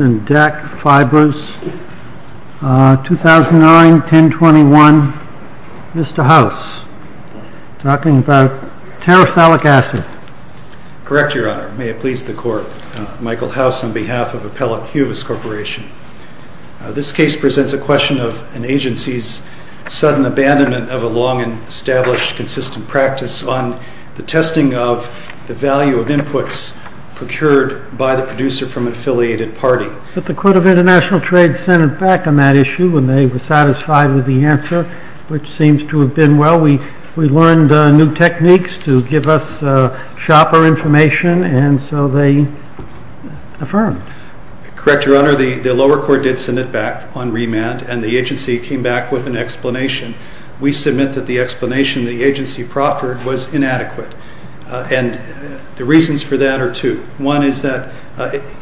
and DAC Fibers, 2009-1021. Mr. House, talking about terephthalic acid. Correct, Your Honor. May it please the Court. Michael House on behalf of Appellate Huvis Corporation. This case presents a question of an agency's sudden abandonment of a long and established consistent practice on the testing of the value of inputs and outputs procured by the producer from an affiliated party. But the Court of International Trade sent it back on that issue and they were satisfied with the answer, which seems to have been well. We learned new techniques to give us sharper information and so they affirmed. Correct, Your Honor. The lower court did send it back on remand and the agency came back with an explanation. We submit that the explanation the agency proffered was inadequate. And the reasons for that are two. One is that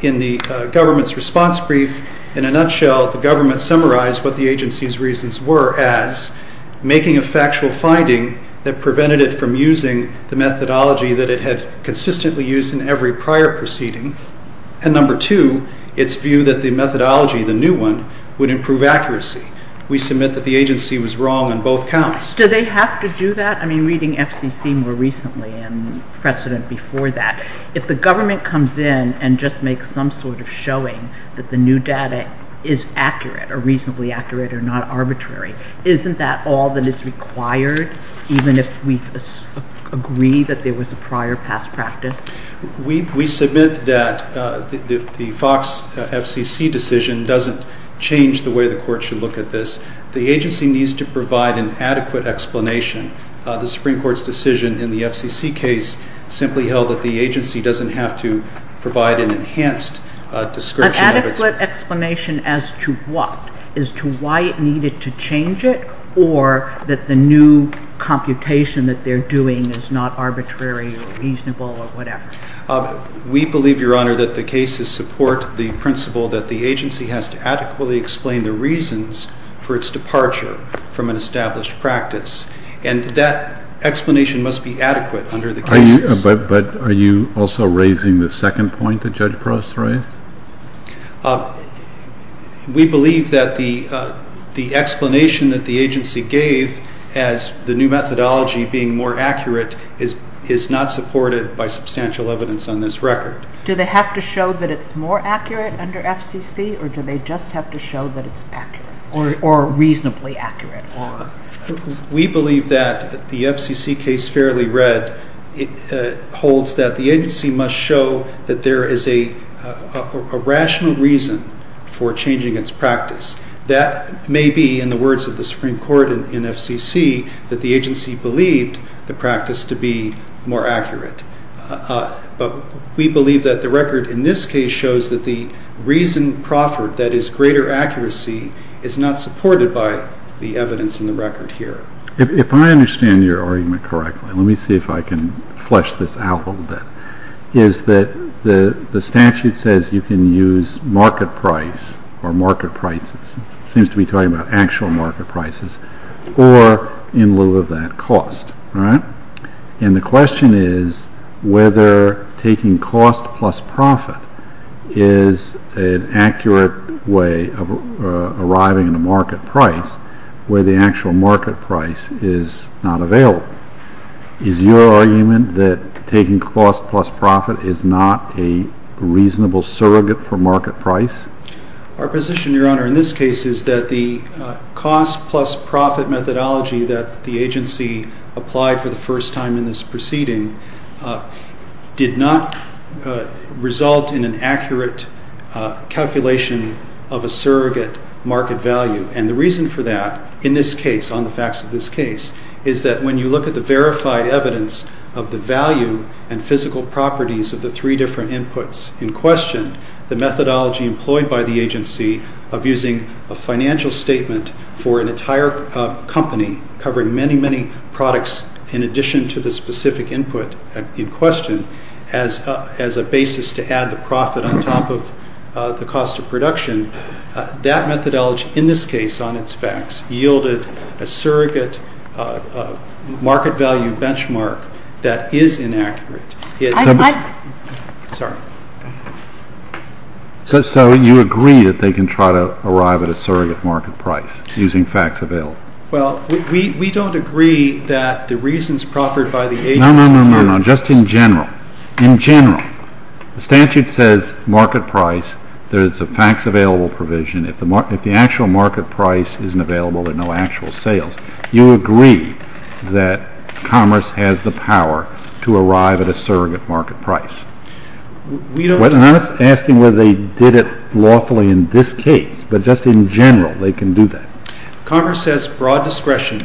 in the government's response brief, in a nutshell, the government summarized what the agency's reasons were as making a factual finding that prevented it from using the methodology that it had consistently used in every prior proceeding. And number two, its view that the methodology, the new one, would improve accuracy. We submit that the agency was wrong on both counts. Do they have to do that? I mean, reading FCC more recently and precedent before that, if the government comes in and just makes some sort of showing that the new data is accurate or reasonably accurate or not arbitrary, isn't that all that is required, even if we agree that there was a prior past practice? We submit that the FOX FCC decision doesn't change the way the court should look at this. The agency needs to provide an adequate explanation. The Supreme Court's decision in the FCC case simply held that the agency doesn't have to provide an enhanced description of its... An adequate explanation as to what? As to why it needed to change it or that the new computation that they're doing is not arbitrary or reasonable or whatever? We believe, Your Honor, that the cases support the principle that the agency has to adequately explain the reasons for its departure from an established practice. And that explanation must be adequate under the cases. But are you also raising the second point that Judge Prost raised? We believe that the explanation that the agency gave as the new methodology being more accurate is not supported by substantial evidence on this record. Do they have to show that it's more accurate under FCC or do they just have to show that it's accurate? Or reasonably accurate. We believe that the FCC case fairly read holds that the agency must show that there is a rational reason for changing its practice. That may be, in the words of the Supreme Court in FCC, that the agency believed the practice to be more accurate. But we believe that the record in this case shows that the reason proffered, that is, greater accuracy, is not supported by the evidence in the record here. If I understand your argument correctly, let me see if I can flesh this out a little bit, is that the statute says you can use market price or market prices. It seems to be talking about actual market prices or in lieu of that cost. And the question is whether taking cost plus profit is an accurate way of arriving at a market price where the actual market price is not available. Is your argument that taking cost plus profit is not a reasonable surrogate for market price? Our position, Your Honor, in this case is that the cost plus profit methodology that the agency applied for the first time in this proceeding did not result in an accurate calculation of a surrogate market value. And the reason for that in this case, on the facts of this case, is that when you look at the verified evidence of the value and physical properties of the three different inputs in question, the methodology employed by the agency of using a financial statement for an entire company covering many, many products in addition to the specific input in question as a basis to add the profit on top of the cost of production, that methodology in this case on its facts yielded a surrogate market value benchmark that is inaccurate. Sorry. So you agree that they can try to arrive at a surrogate market price using facts available? Well, we don't agree that the reasons proffered by the agency... No, no, no, no, just in general. In general, the statute says market price. There's a facts available provision. If the actual market price isn't available, there are no actual sales. You agree that commerce has the power to arrive at a surrogate market price? We don't... I'm not asking whether they did it lawfully in this case, but just in general they can do that. Commerce has broad discretion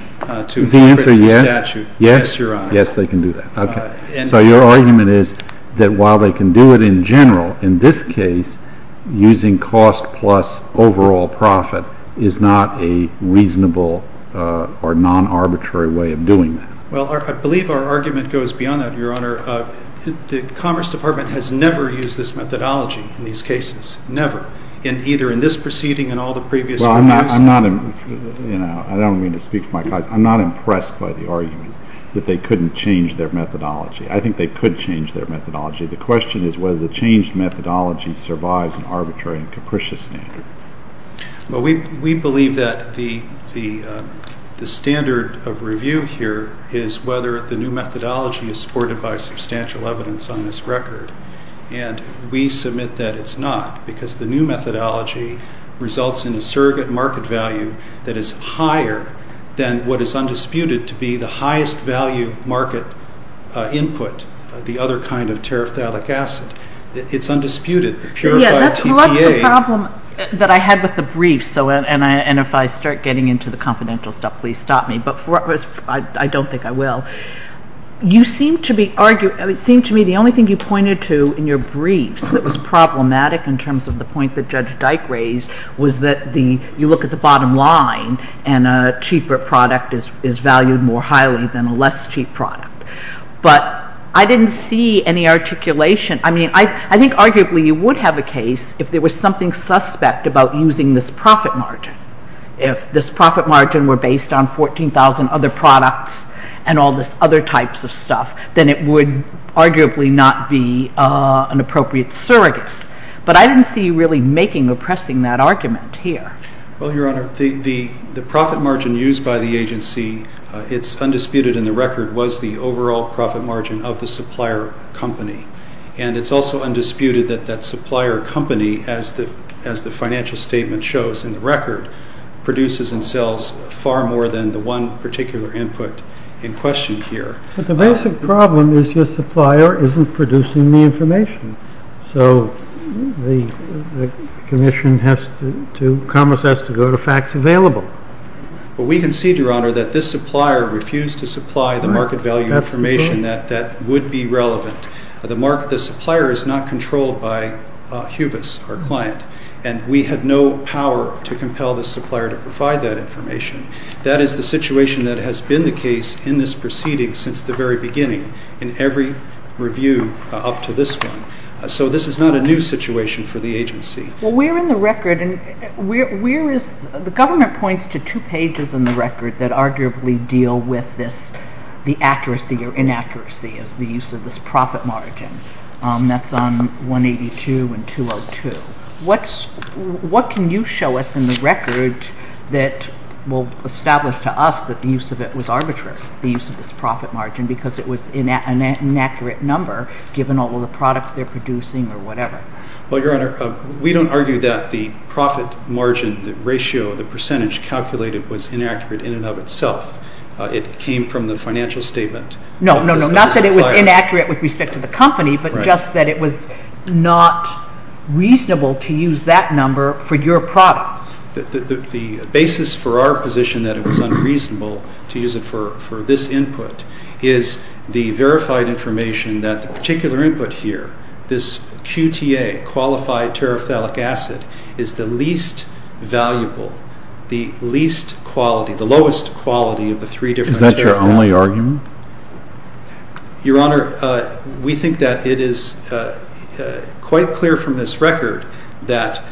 to incorporate the statute, yes, Your Honor. Yes, they can do that. So your argument is that while they can do it in general, in this case using cost plus overall profit is not a reasonable or non-arbitrary way of doing that? Well, I believe our argument goes beyond that, Your Honor. The Commerce Department has never used this methodology in these cases, never, in either in this proceeding and all the previous reviews. Well, I'm not impressed by the argument that they couldn't change their methodology. I think they could change their methodology. The question is whether the changed methodology survives an arbitrary and capricious standard. Well, we believe that the standard of review here is whether the new methodology is supported by substantial evidence on this record. And we submit that it's not because the new methodology results in a surrogate market value that is higher than what is undisputed to be the highest value market input, the other kind of terephthalic acid. It's undisputed, the purified TPA. That's the problem that I had with the briefs, and if I start getting into the confidential stuff, please stop me. But I don't think I will. It seemed to me the only thing you pointed to in your briefs that was problematic in terms of the point that Judge Dyke raised was that you look at the bottom line and a cheaper product is valued more highly than a less cheap product. But I didn't see any articulation. I mean, I think arguably you would have a case if there was something suspect about using this profit margin. If this profit margin were based on 14,000 other products and all this other types of stuff, then it would arguably not be an appropriate surrogate. But I didn't see you really making or pressing that argument here. Well, Your Honor, the profit margin used by the agency, it's undisputed in the record, was the overall profit margin of the supplier company. And it's also undisputed that that supplier company, as the financial statement shows in the record, produces and sells far more than the one particular input in question here. But the basic problem is your supplier isn't producing the information. So Commerce has to go to facts available. But we concede, Your Honor, that this supplier refused to supply the market value information that would be relevant. The supplier is not controlled by Huvis, our client, and we have no power to compel the supplier to provide that information. That is the situation that has been the case in this proceeding since the very beginning in every review up to this one. So this is not a new situation for the agency. Well, we're in the record, and the government points to two pages in the record that arguably deal with the accuracy or inaccuracy of the use of this profit margin. That's on 182 and 202. What can you show us in the record that will establish to us that the use of it was arbitrary, the use of this profit margin, because it was an inaccurate number, given all the products they're producing or whatever? Well, Your Honor, we don't argue that the profit margin, the ratio, the percentage calculated was inaccurate in and of itself. It came from the financial statement. No, no, no, not that it was inaccurate with respect to the company, but just that it was not reasonable to use that number for your product. The basis for our position that it was unreasonable to use it for this input is the verified information that the particular input here, this QTA, qualified terephthalic acid, is the least valuable, the least quality, the lowest quality of the three different terephthalic acids. Is that your only argument? Your Honor, we think that it is quite clear from this record that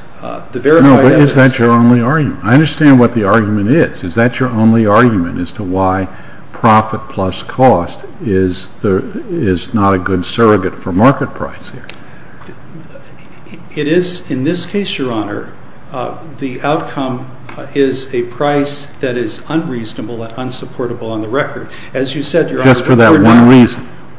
the verified information That's your only argument. I understand what the argument is. Is that your only argument as to why profit plus cost is not a good surrogate for market price here? It is. In this case, Your Honor, the outcome is a price that is unreasonable and unsupportable on the record. As you said, Your Honor,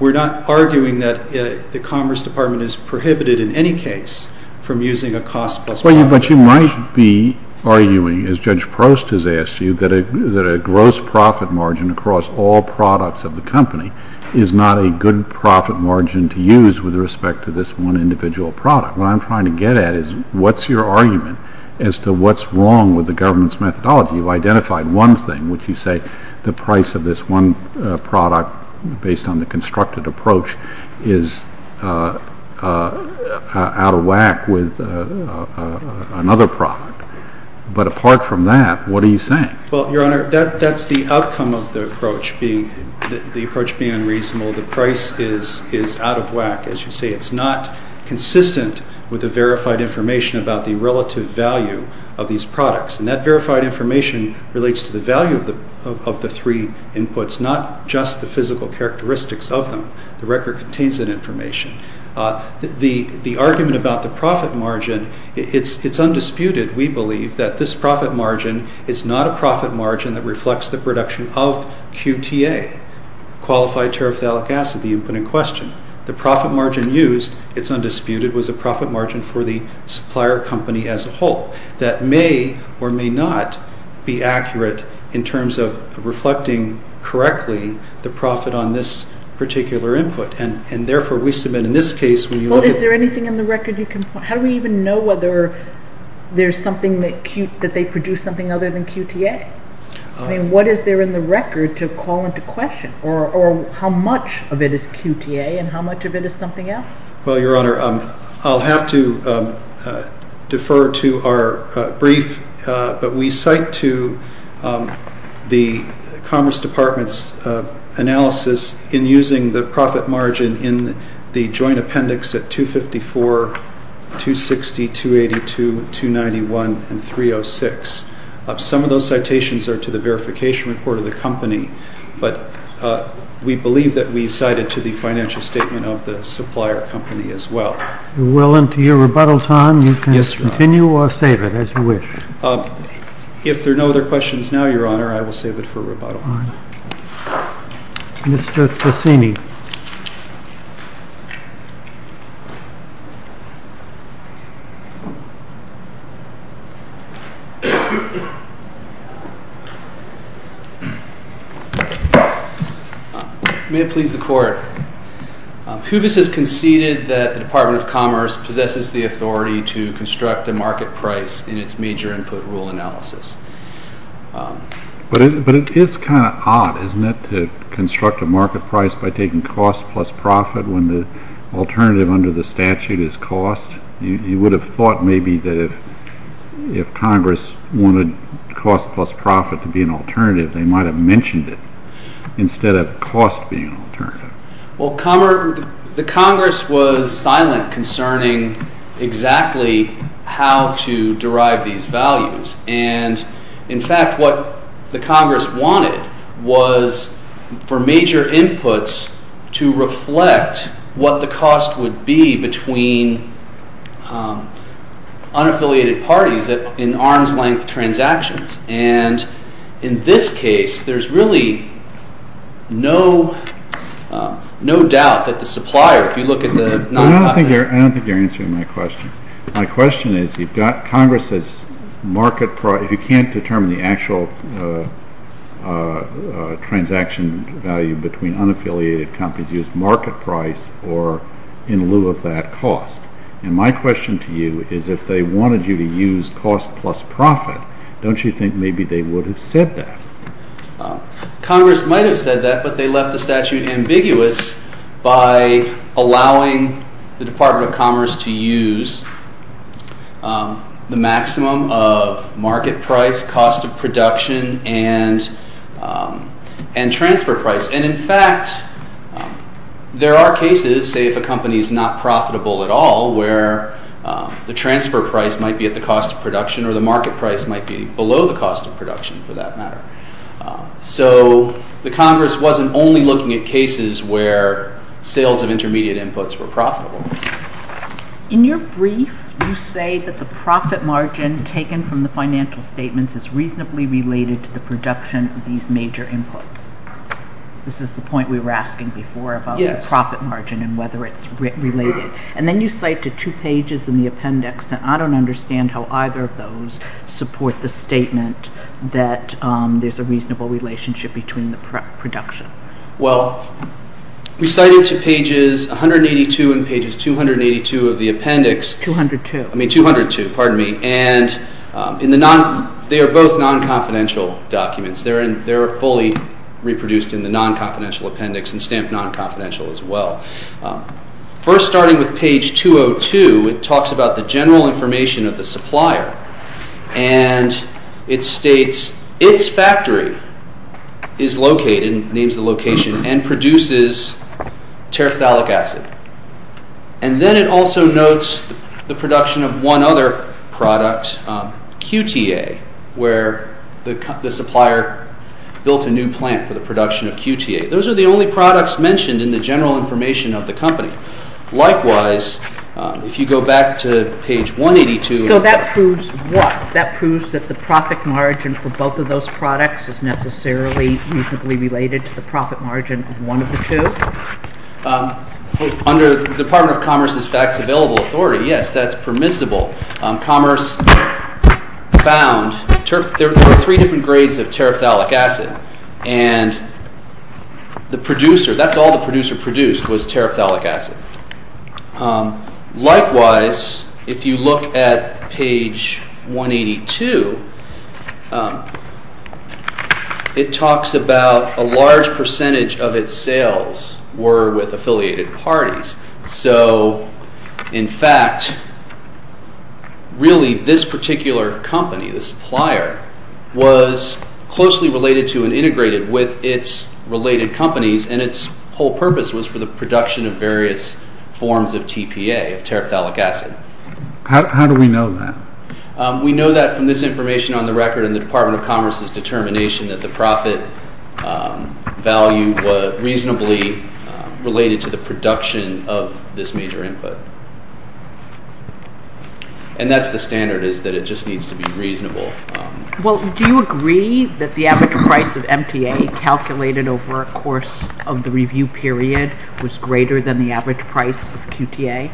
we're not arguing that the Commerce Department is prohibited in any case from using a cost plus profit margin. But you might be arguing, as Judge Prost has asked you, that a gross profit margin across all products of the company is not a good profit margin to use with respect to this one individual product. What I'm trying to get at is what's your argument as to what's wrong with the government's methodology? You've identified one thing, which you say the price of this one product, based on the constructed approach, is out of whack with another product. But apart from that, what are you saying? Well, Your Honor, that's the outcome of the approach being unreasonable. The price is out of whack. As you say, it's not consistent with the verified information about the relative value of these products. And that verified information relates to the value of the three inputs, so it's not just the physical characteristics of them. The record contains that information. The argument about the profit margin, it's undisputed, we believe, that this profit margin is not a profit margin that reflects the production of QTA, Qualified Terephthalic Acid, the input in question. The profit margin used, it's undisputed, was a profit margin for the supplier company as a whole. That may or may not be accurate in terms of reflecting correctly the profit on this particular input. And therefore, we submit in this case when you look at... Well, is there anything in the record you can point... How do we even know whether there's something that they produce something other than QTA? I mean, what is there in the record to call into question? Or how much of it is QTA and how much of it is something else? Well, Your Honor, I'll have to defer to our brief, but we cite to the Commerce Department's analysis in using the profit margin in the joint appendix at 254, 260, 282, 291, and 306. Some of those citations are to the verification report of the company, but we believe that we cited to the financial statement of the supplier company as well. If you're willing to your rebuttal time, you can continue or save it as you wish. If there are no other questions now, Your Honor, I will save it for rebuttal. Mr. Tresini. May it please the Court. HUBIS has conceded that the Department of Commerce possesses the authority to construct a market price in its major input rule analysis. But it is kind of odd, isn't it, to construct a market price by taking cost plus profit when the alternative under the statute is cost? You would have thought maybe that if Congress wanted cost plus profit to be an alternative, they might have mentioned it instead of cost being an alternative. Well, the Congress was silent concerning exactly how to derive these values. And, in fact, what the Congress wanted was for major inputs to reflect what the cost would be between unaffiliated parties in arm's-length transactions. And in this case, there's really no doubt that the supplier, if you look at the— I don't think you're answering my question. My question is, you've got Congress's market price. You can't determine the actual transaction value between unaffiliated companies used market price or in lieu of that cost. And my question to you is if they wanted you to use cost plus profit, don't you think maybe they would have said that? Congress might have said that, but they left the statute ambiguous by allowing the Department of Commerce to use the maximum of market price, cost of production, and transfer price. And, in fact, there are cases, say if a company is not profitable at all, where the transfer price might be at the cost of production or the market price might be below the cost of production for that matter. So the Congress wasn't only looking at cases where sales of intermediate inputs were profitable. In your brief, you say that the profit margin taken from the financial statements is reasonably related to the production of these major inputs. This is the point we were asking before about the profit margin and whether it's related. And then you cite to two pages in the appendix, and I don't understand how either of those support the statement that there's a reasonable relationship between the production. Well, we cite it to pages 182 and pages 282 of the appendix. 202. I mean 202, pardon me. And they are both non-confidential documents. They're fully reproduced in the non-confidential appendix and stamped non-confidential as well. First, starting with page 202, it talks about the general information of the supplier. And it states, its factory is located, names the location, and produces terephthalic acid. And then it also notes the production of one other product, QTA, where the supplier built a new plant for the production of QTA. Those are the only products mentioned in the general information of the company. Likewise, if you go back to page 182. So that proves what? That proves that the profit margin for both of those products is necessarily reasonably related to the profit margin of one of the two? Under the Department of Commerce's Facts Available Authority, yes, that's permissible. Commerce found there were three different grades of terephthalic acid. And the producer, that's all the producer produced was terephthalic acid. Likewise, if you look at page 182, it talks about a large percentage of its sales were with affiliated parties. So, in fact, really this particular company, the supplier, was closely related to and integrated with its related companies. And its whole purpose was for the production of various forms of TPA, of terephthalic acid. How do we know that? We know that from this information on the record in the Department of Commerce's determination that the profit value was reasonably related to the production of this major input. And that's the standard is that it just needs to be reasonable. Well, do you agree that the average price of MTA calculated over a course of the review period was greater than the average price of QTA?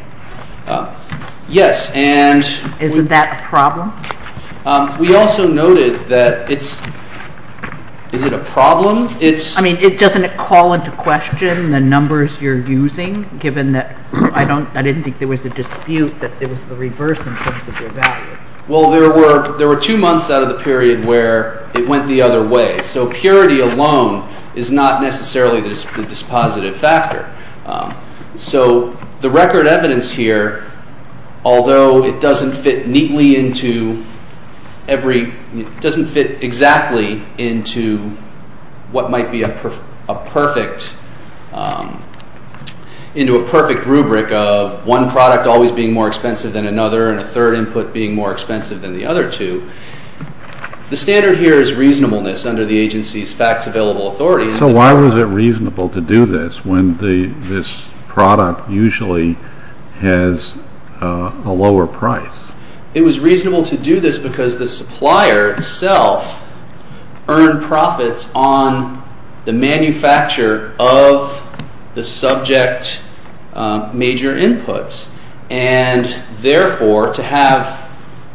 Isn't that a problem? We also noted that it's, is it a problem? I mean, doesn't it call into question the numbers you're using, given that I didn't think there was a dispute that it was the reverse in terms of your value? Well, there were two months out of the period where it went the other way. So purity alone is not necessarily the dispositive factor. So the record evidence here, although it doesn't fit neatly into every, doesn't fit exactly into what might be a perfect, into a perfect rubric of one product always being more expensive than another and a third input being more expensive than the other two, the standard here is reasonableness under the agency's facts available authority. So why was it reasonable to do this when the, this product usually has a lower price? It was reasonable to do this because the supplier itself earned profits on the manufacture of the subject major inputs. And therefore, to have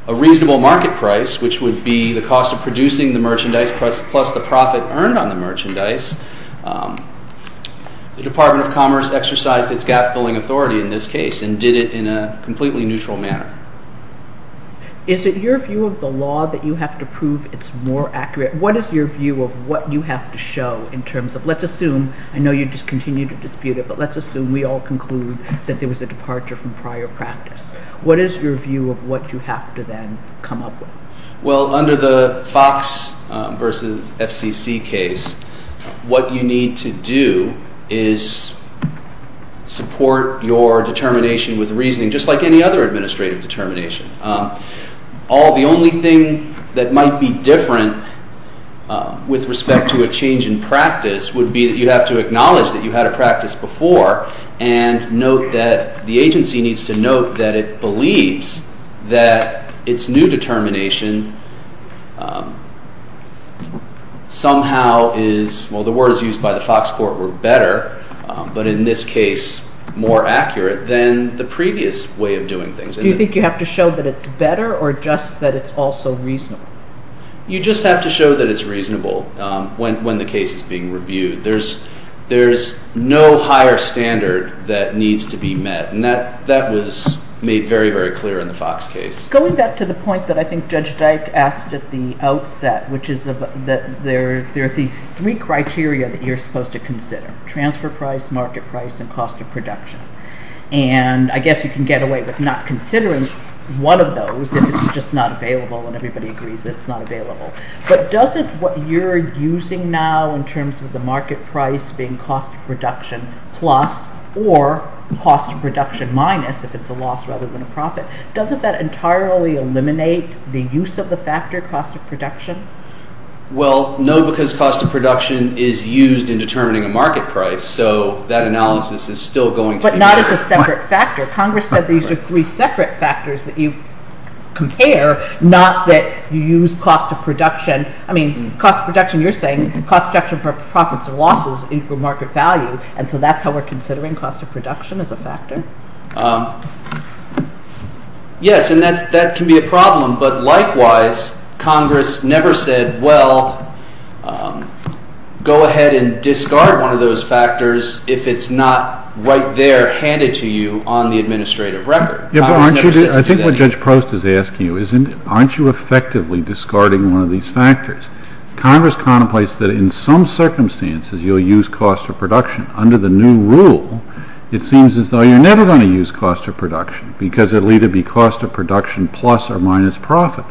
a reasonable market price, which would be the cost of producing the merchandise plus the profit earned on the merchandise, the Department of Commerce exercised its gap-filling authority in this case and did it in a completely neutral manner. Is it your view of the law that you have to prove it's more accurate? What is your view of what you have to show in terms of, let's assume, I know you just continue to dispute it, but let's assume we all conclude that there was a departure from prior practice. What is your view of what you have to then come up with? Well, under the Fox versus FCC case, what you need to do is support your determination with reasoning, just like any other administrative determination. All, the only thing that might be different with respect to a change in practice would be that you have to acknowledge that you had a practice before and note that the agency needs to note that it believes that its new determination somehow is, well, the words used by the Fox Court were better, but in this case, more accurate than the previous way of doing things. Do you think you have to show that it's better or just that it's also reasonable? You just have to show that it's reasonable when the case is being reviewed. There's no higher standard that needs to be met, and that was made very, very clear in the Fox case. Going back to the point that I think Judge Dyke asked at the outset, which is that there are these three criteria that you're supposed to consider, transfer price, market price, and cost of production. And I guess you can get away with not considering one of those if it's just not available and everybody agrees it's not available. But doesn't what you're using now in terms of the market price being cost of production plus or cost of production minus, if it's a loss rather than a profit, doesn't that entirely eliminate the use of the factor cost of production? Well, no, because cost of production is used in determining a market price, so that analysis is still going to be— But not as a separate factor. Congress said these are three separate factors that you compare, not that you use cost of production— I mean, cost of production, you're saying, cost of production for profits and losses equal market value, and so that's how we're considering cost of production as a factor? Yes, and that can be a problem, but likewise, Congress never said, well, go ahead and discard one of those factors if it's not right there handed to you on the administrative record. Congress never said to do that. I think what Judge Prost is asking you is, aren't you effectively discarding one of these factors? Congress contemplates that in some circumstances you'll use cost of production. Under the new rule, it seems as though you're never going to use cost of production because it'll either be cost of production plus or minus profit.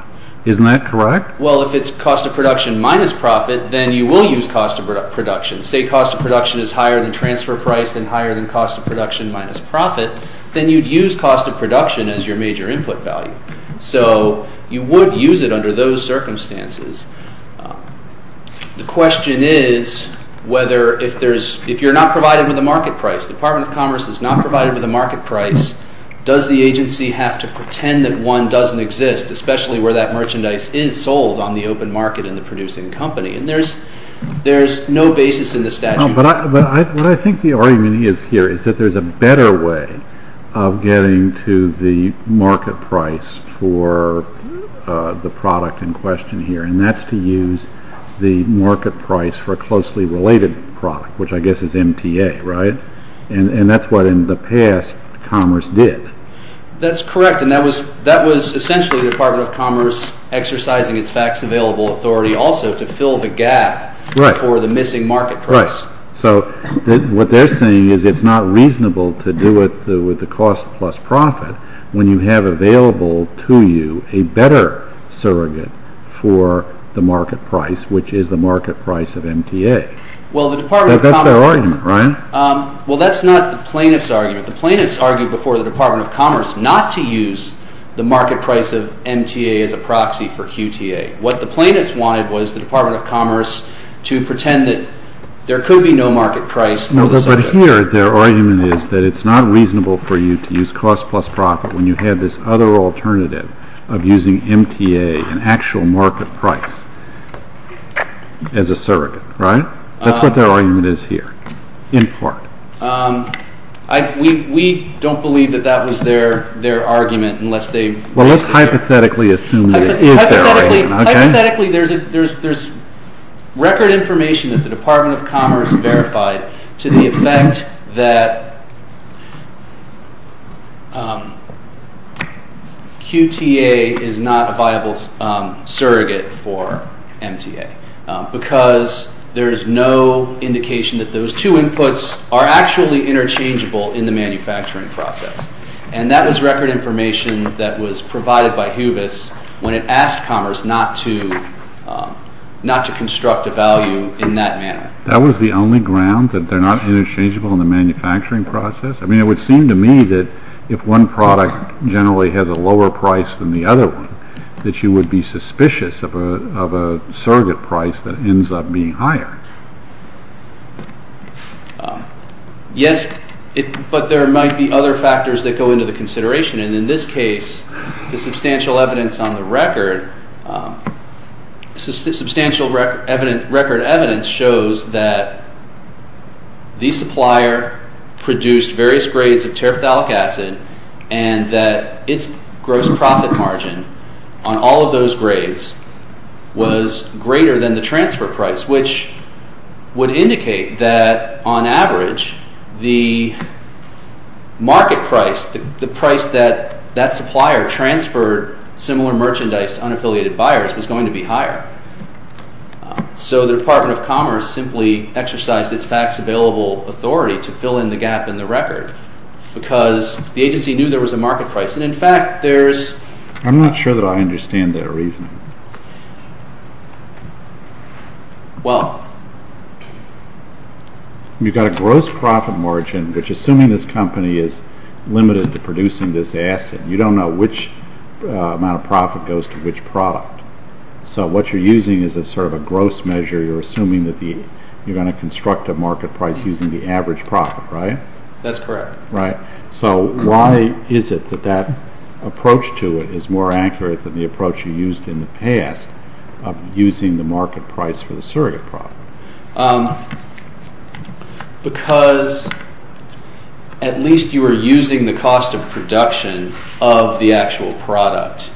Isn't that correct? Well, if it's cost of production minus profit, then you will use cost of production. Say cost of production is higher than transfer price and higher than cost of production minus profit, then you'd use cost of production as your major input value. So you would use it under those circumstances. The question is whether if you're not provided with a market price, the Department of Commerce is not provided with a market price, does the agency have to pretend that one doesn't exist, especially where that merchandise is sold on the open market in the producing company? And there's no basis in the statute. No, but what I think the argument is here is that there's a better way of getting to the market price for the product in question here, and that's to use the market price for a closely related product, which I guess is MTA, right? And that's what in the past Commerce did. That's correct, and that was essentially the Department of Commerce exercising its facts available authority also to fill the gap for the missing market price. So what they're saying is it's not reasonable to do it with the cost plus profit when you have available to you a better surrogate for the market price, which is the market price of MTA. That's their argument, right? Well, that's not the plaintiff's argument. The plaintiff's argued before the Department of Commerce not to use the market price of MTA as a proxy for QTA. What the plaintiff's wanted was the Department of Commerce to pretend that there could be no market price for the surrogate. But here their argument is that it's not reasonable for you to use cost plus profit when you have this other alternative of using MTA, an actual market price, as a surrogate, right? That's what their argument is here, in part. We don't believe that that was their argument unless they— Well, let's hypothetically assume that it is their argument, okay? There's record information that the Department of Commerce verified to the effect that QTA is not a viable surrogate for MTA because there's no indication that those two inputs are actually interchangeable in the manufacturing process. And that was record information that was provided by HUVIS when it asked Commerce not to construct a value in that manner. That was the only ground, that they're not interchangeable in the manufacturing process? I mean, it would seem to me that if one product generally has a lower price than the other one, that you would be suspicious of a surrogate price that ends up being higher. Yes, but there might be other factors that go into the consideration. And in this case, the substantial evidence on the record— substantial record evidence shows that the supplier produced various grades of terephthalic acid and that its gross profit margin on all of those grades was greater than the transfer price, which would indicate that, on average, the market price— the price that that supplier transferred similar merchandise to unaffiliated buyers was going to be higher. So the Department of Commerce simply exercised its fax-available authority to fill in the gap in the record because the agency knew there was a market price. And in fact, there's— I'm not sure that I understand that reasoning. Well— You've got a gross profit margin, which, assuming this company is limited to producing this acid, you don't know which amount of profit goes to which product. So what you're using is sort of a gross measure. You're assuming that you're going to construct a market price using the average profit, right? That's correct. So why is it that that approach to it is more accurate than the approach you used in the past of using the market price for the surrogate product? Because at least you are using the cost of production of the actual product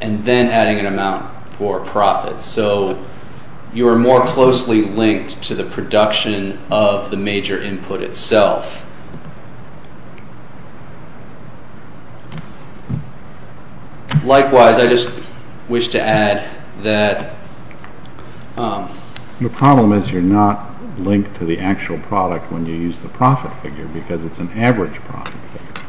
and then adding an amount for profit. So you are more closely linked to the production of the major input itself. Likewise, I just wish to add that— The problem is you're not linked to the actual product when you use the profit figure because it's an average profit figure.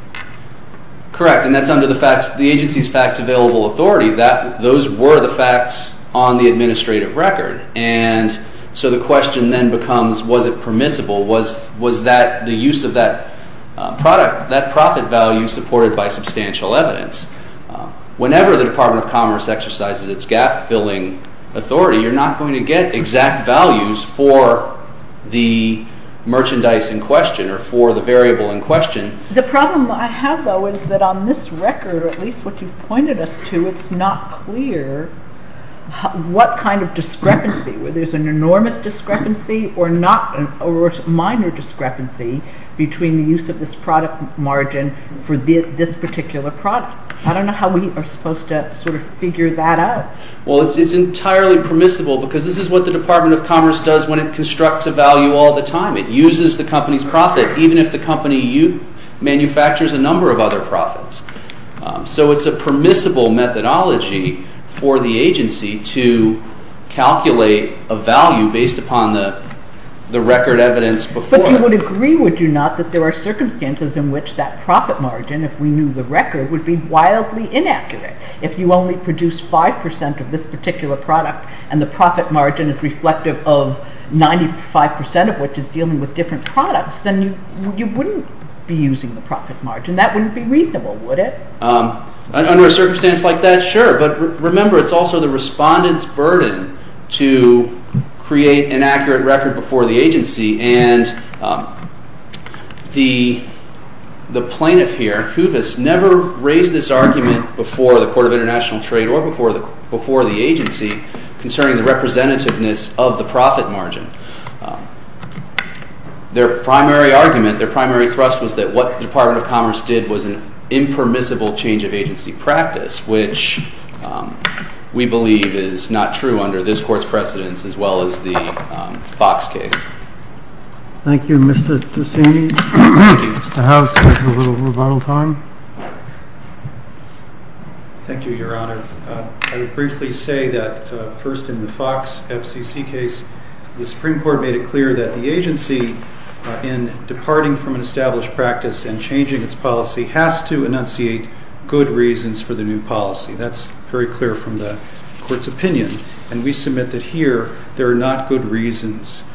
Correct, and that's under the agency's fax-available authority. Those were the facts on the administrative record. And so the question then becomes, was it permissible? Was the use of that profit value supported by substantial evidence? Whenever the Department of Commerce exercises its gap-filling authority, you're not going to get exact values for the merchandise in question or for the variable in question. The problem I have, though, is that on this record, at least what you've pointed us to, it's not clear what kind of discrepancy. There's an enormous discrepancy or a minor discrepancy between the use of this product margin for this particular product. I don't know how we are supposed to sort of figure that out. Well, it's entirely permissible because this is what the Department of Commerce does when it constructs a value all the time. It uses the company's profit, even if the company manufactures a number of other profits. So it's a permissible methodology for the agency to calculate a value based upon the record evidence before it. But you would agree, would you not, that there are circumstances in which that profit margin, if we knew the record, would be wildly inaccurate. If you only produce 5% of this particular product and the profit margin is reflective of 95% of which is dealing with different products, then you wouldn't be using the profit margin. That wouldn't be reasonable, would it? Under a circumstance like that, sure. But remember, it's also the respondent's burden to create an accurate record before the agency. And the plaintiff here, Hoovis, never raised this argument before the Court of International Trade or before the agency concerning the representativeness of the profit margin. Their primary argument, their primary thrust was that what the Department of Commerce did was an impermissible change of agency practice, which we believe is not true under this Court's precedence as well as the Fox case. Thank you, Mr. Sassini. Mr. House, we have a little rebuttal time. Thank you, Your Honor. I would briefly say that first in the Fox FCC case, the Supreme Court made it clear that the agency, in departing from an established practice and changing its policy, has to enunciate good reasons for the new policy. That's very clear from the Court's opinion. And we submit that here there are not good reasons.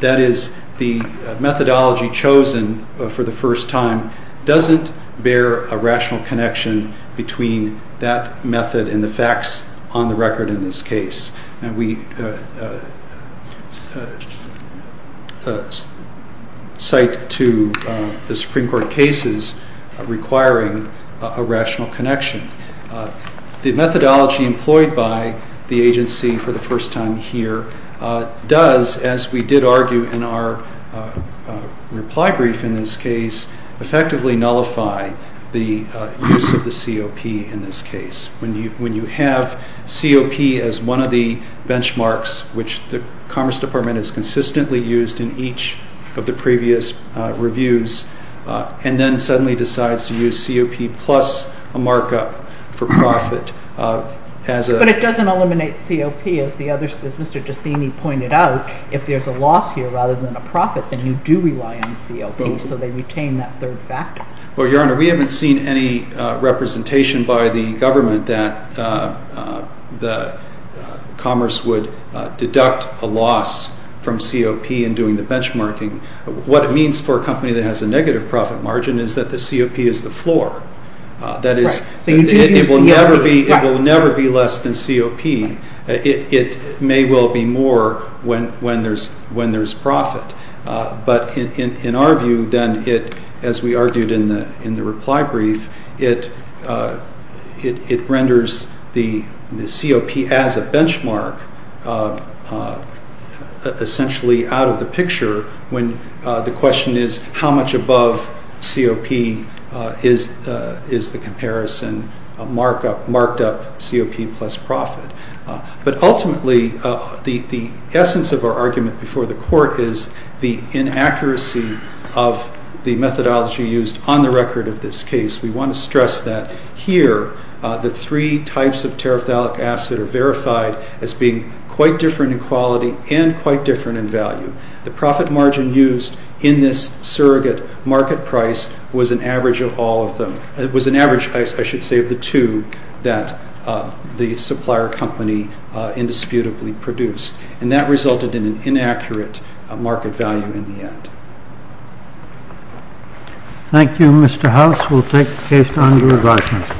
That is, the methodology chosen for the first time doesn't bear a rational connection between that method and the facts on the record in this case. And we cite to the Supreme Court cases requiring a rational connection. The methodology employed by the agency for the first time here does, as we did argue in our reply brief in this case, effectively nullify the use of the COP in this case. When you have COP as one of the benchmarks, which the Commerce Department has consistently used in each of the previous reviews, and then suddenly decides to use COP plus a markup for profit as a... But it doesn't eliminate COP, as Mr. DeSini pointed out. If there's a loss here rather than a profit, then you do rely on COP. So they retain that third factor. Well, Your Honor, we haven't seen any representation by the government that commerce would deduct a loss from COP in doing the benchmarking. What it means for a company that has a negative profit margin is that the COP is the floor. That is, it will never be less than COP. It may well be more when there's profit. But in our view, then, as we argued in the reply brief, it renders the COP as a benchmark essentially out of the picture when the question is how much above COP is the comparison marked up COP plus profit. But ultimately, the essence of our argument before the court is the inaccuracy of the methodology used on the record of this case. We want to stress that here the three types of terephthalic acid are verified as being quite different in quality and quite different in value. The profit margin used in this surrogate market price was an average of all of them. that the supplier company indisputably produced. And that resulted in an inaccurate market value in the end. Thank you, Mr. House. We'll take the case to under-regardment.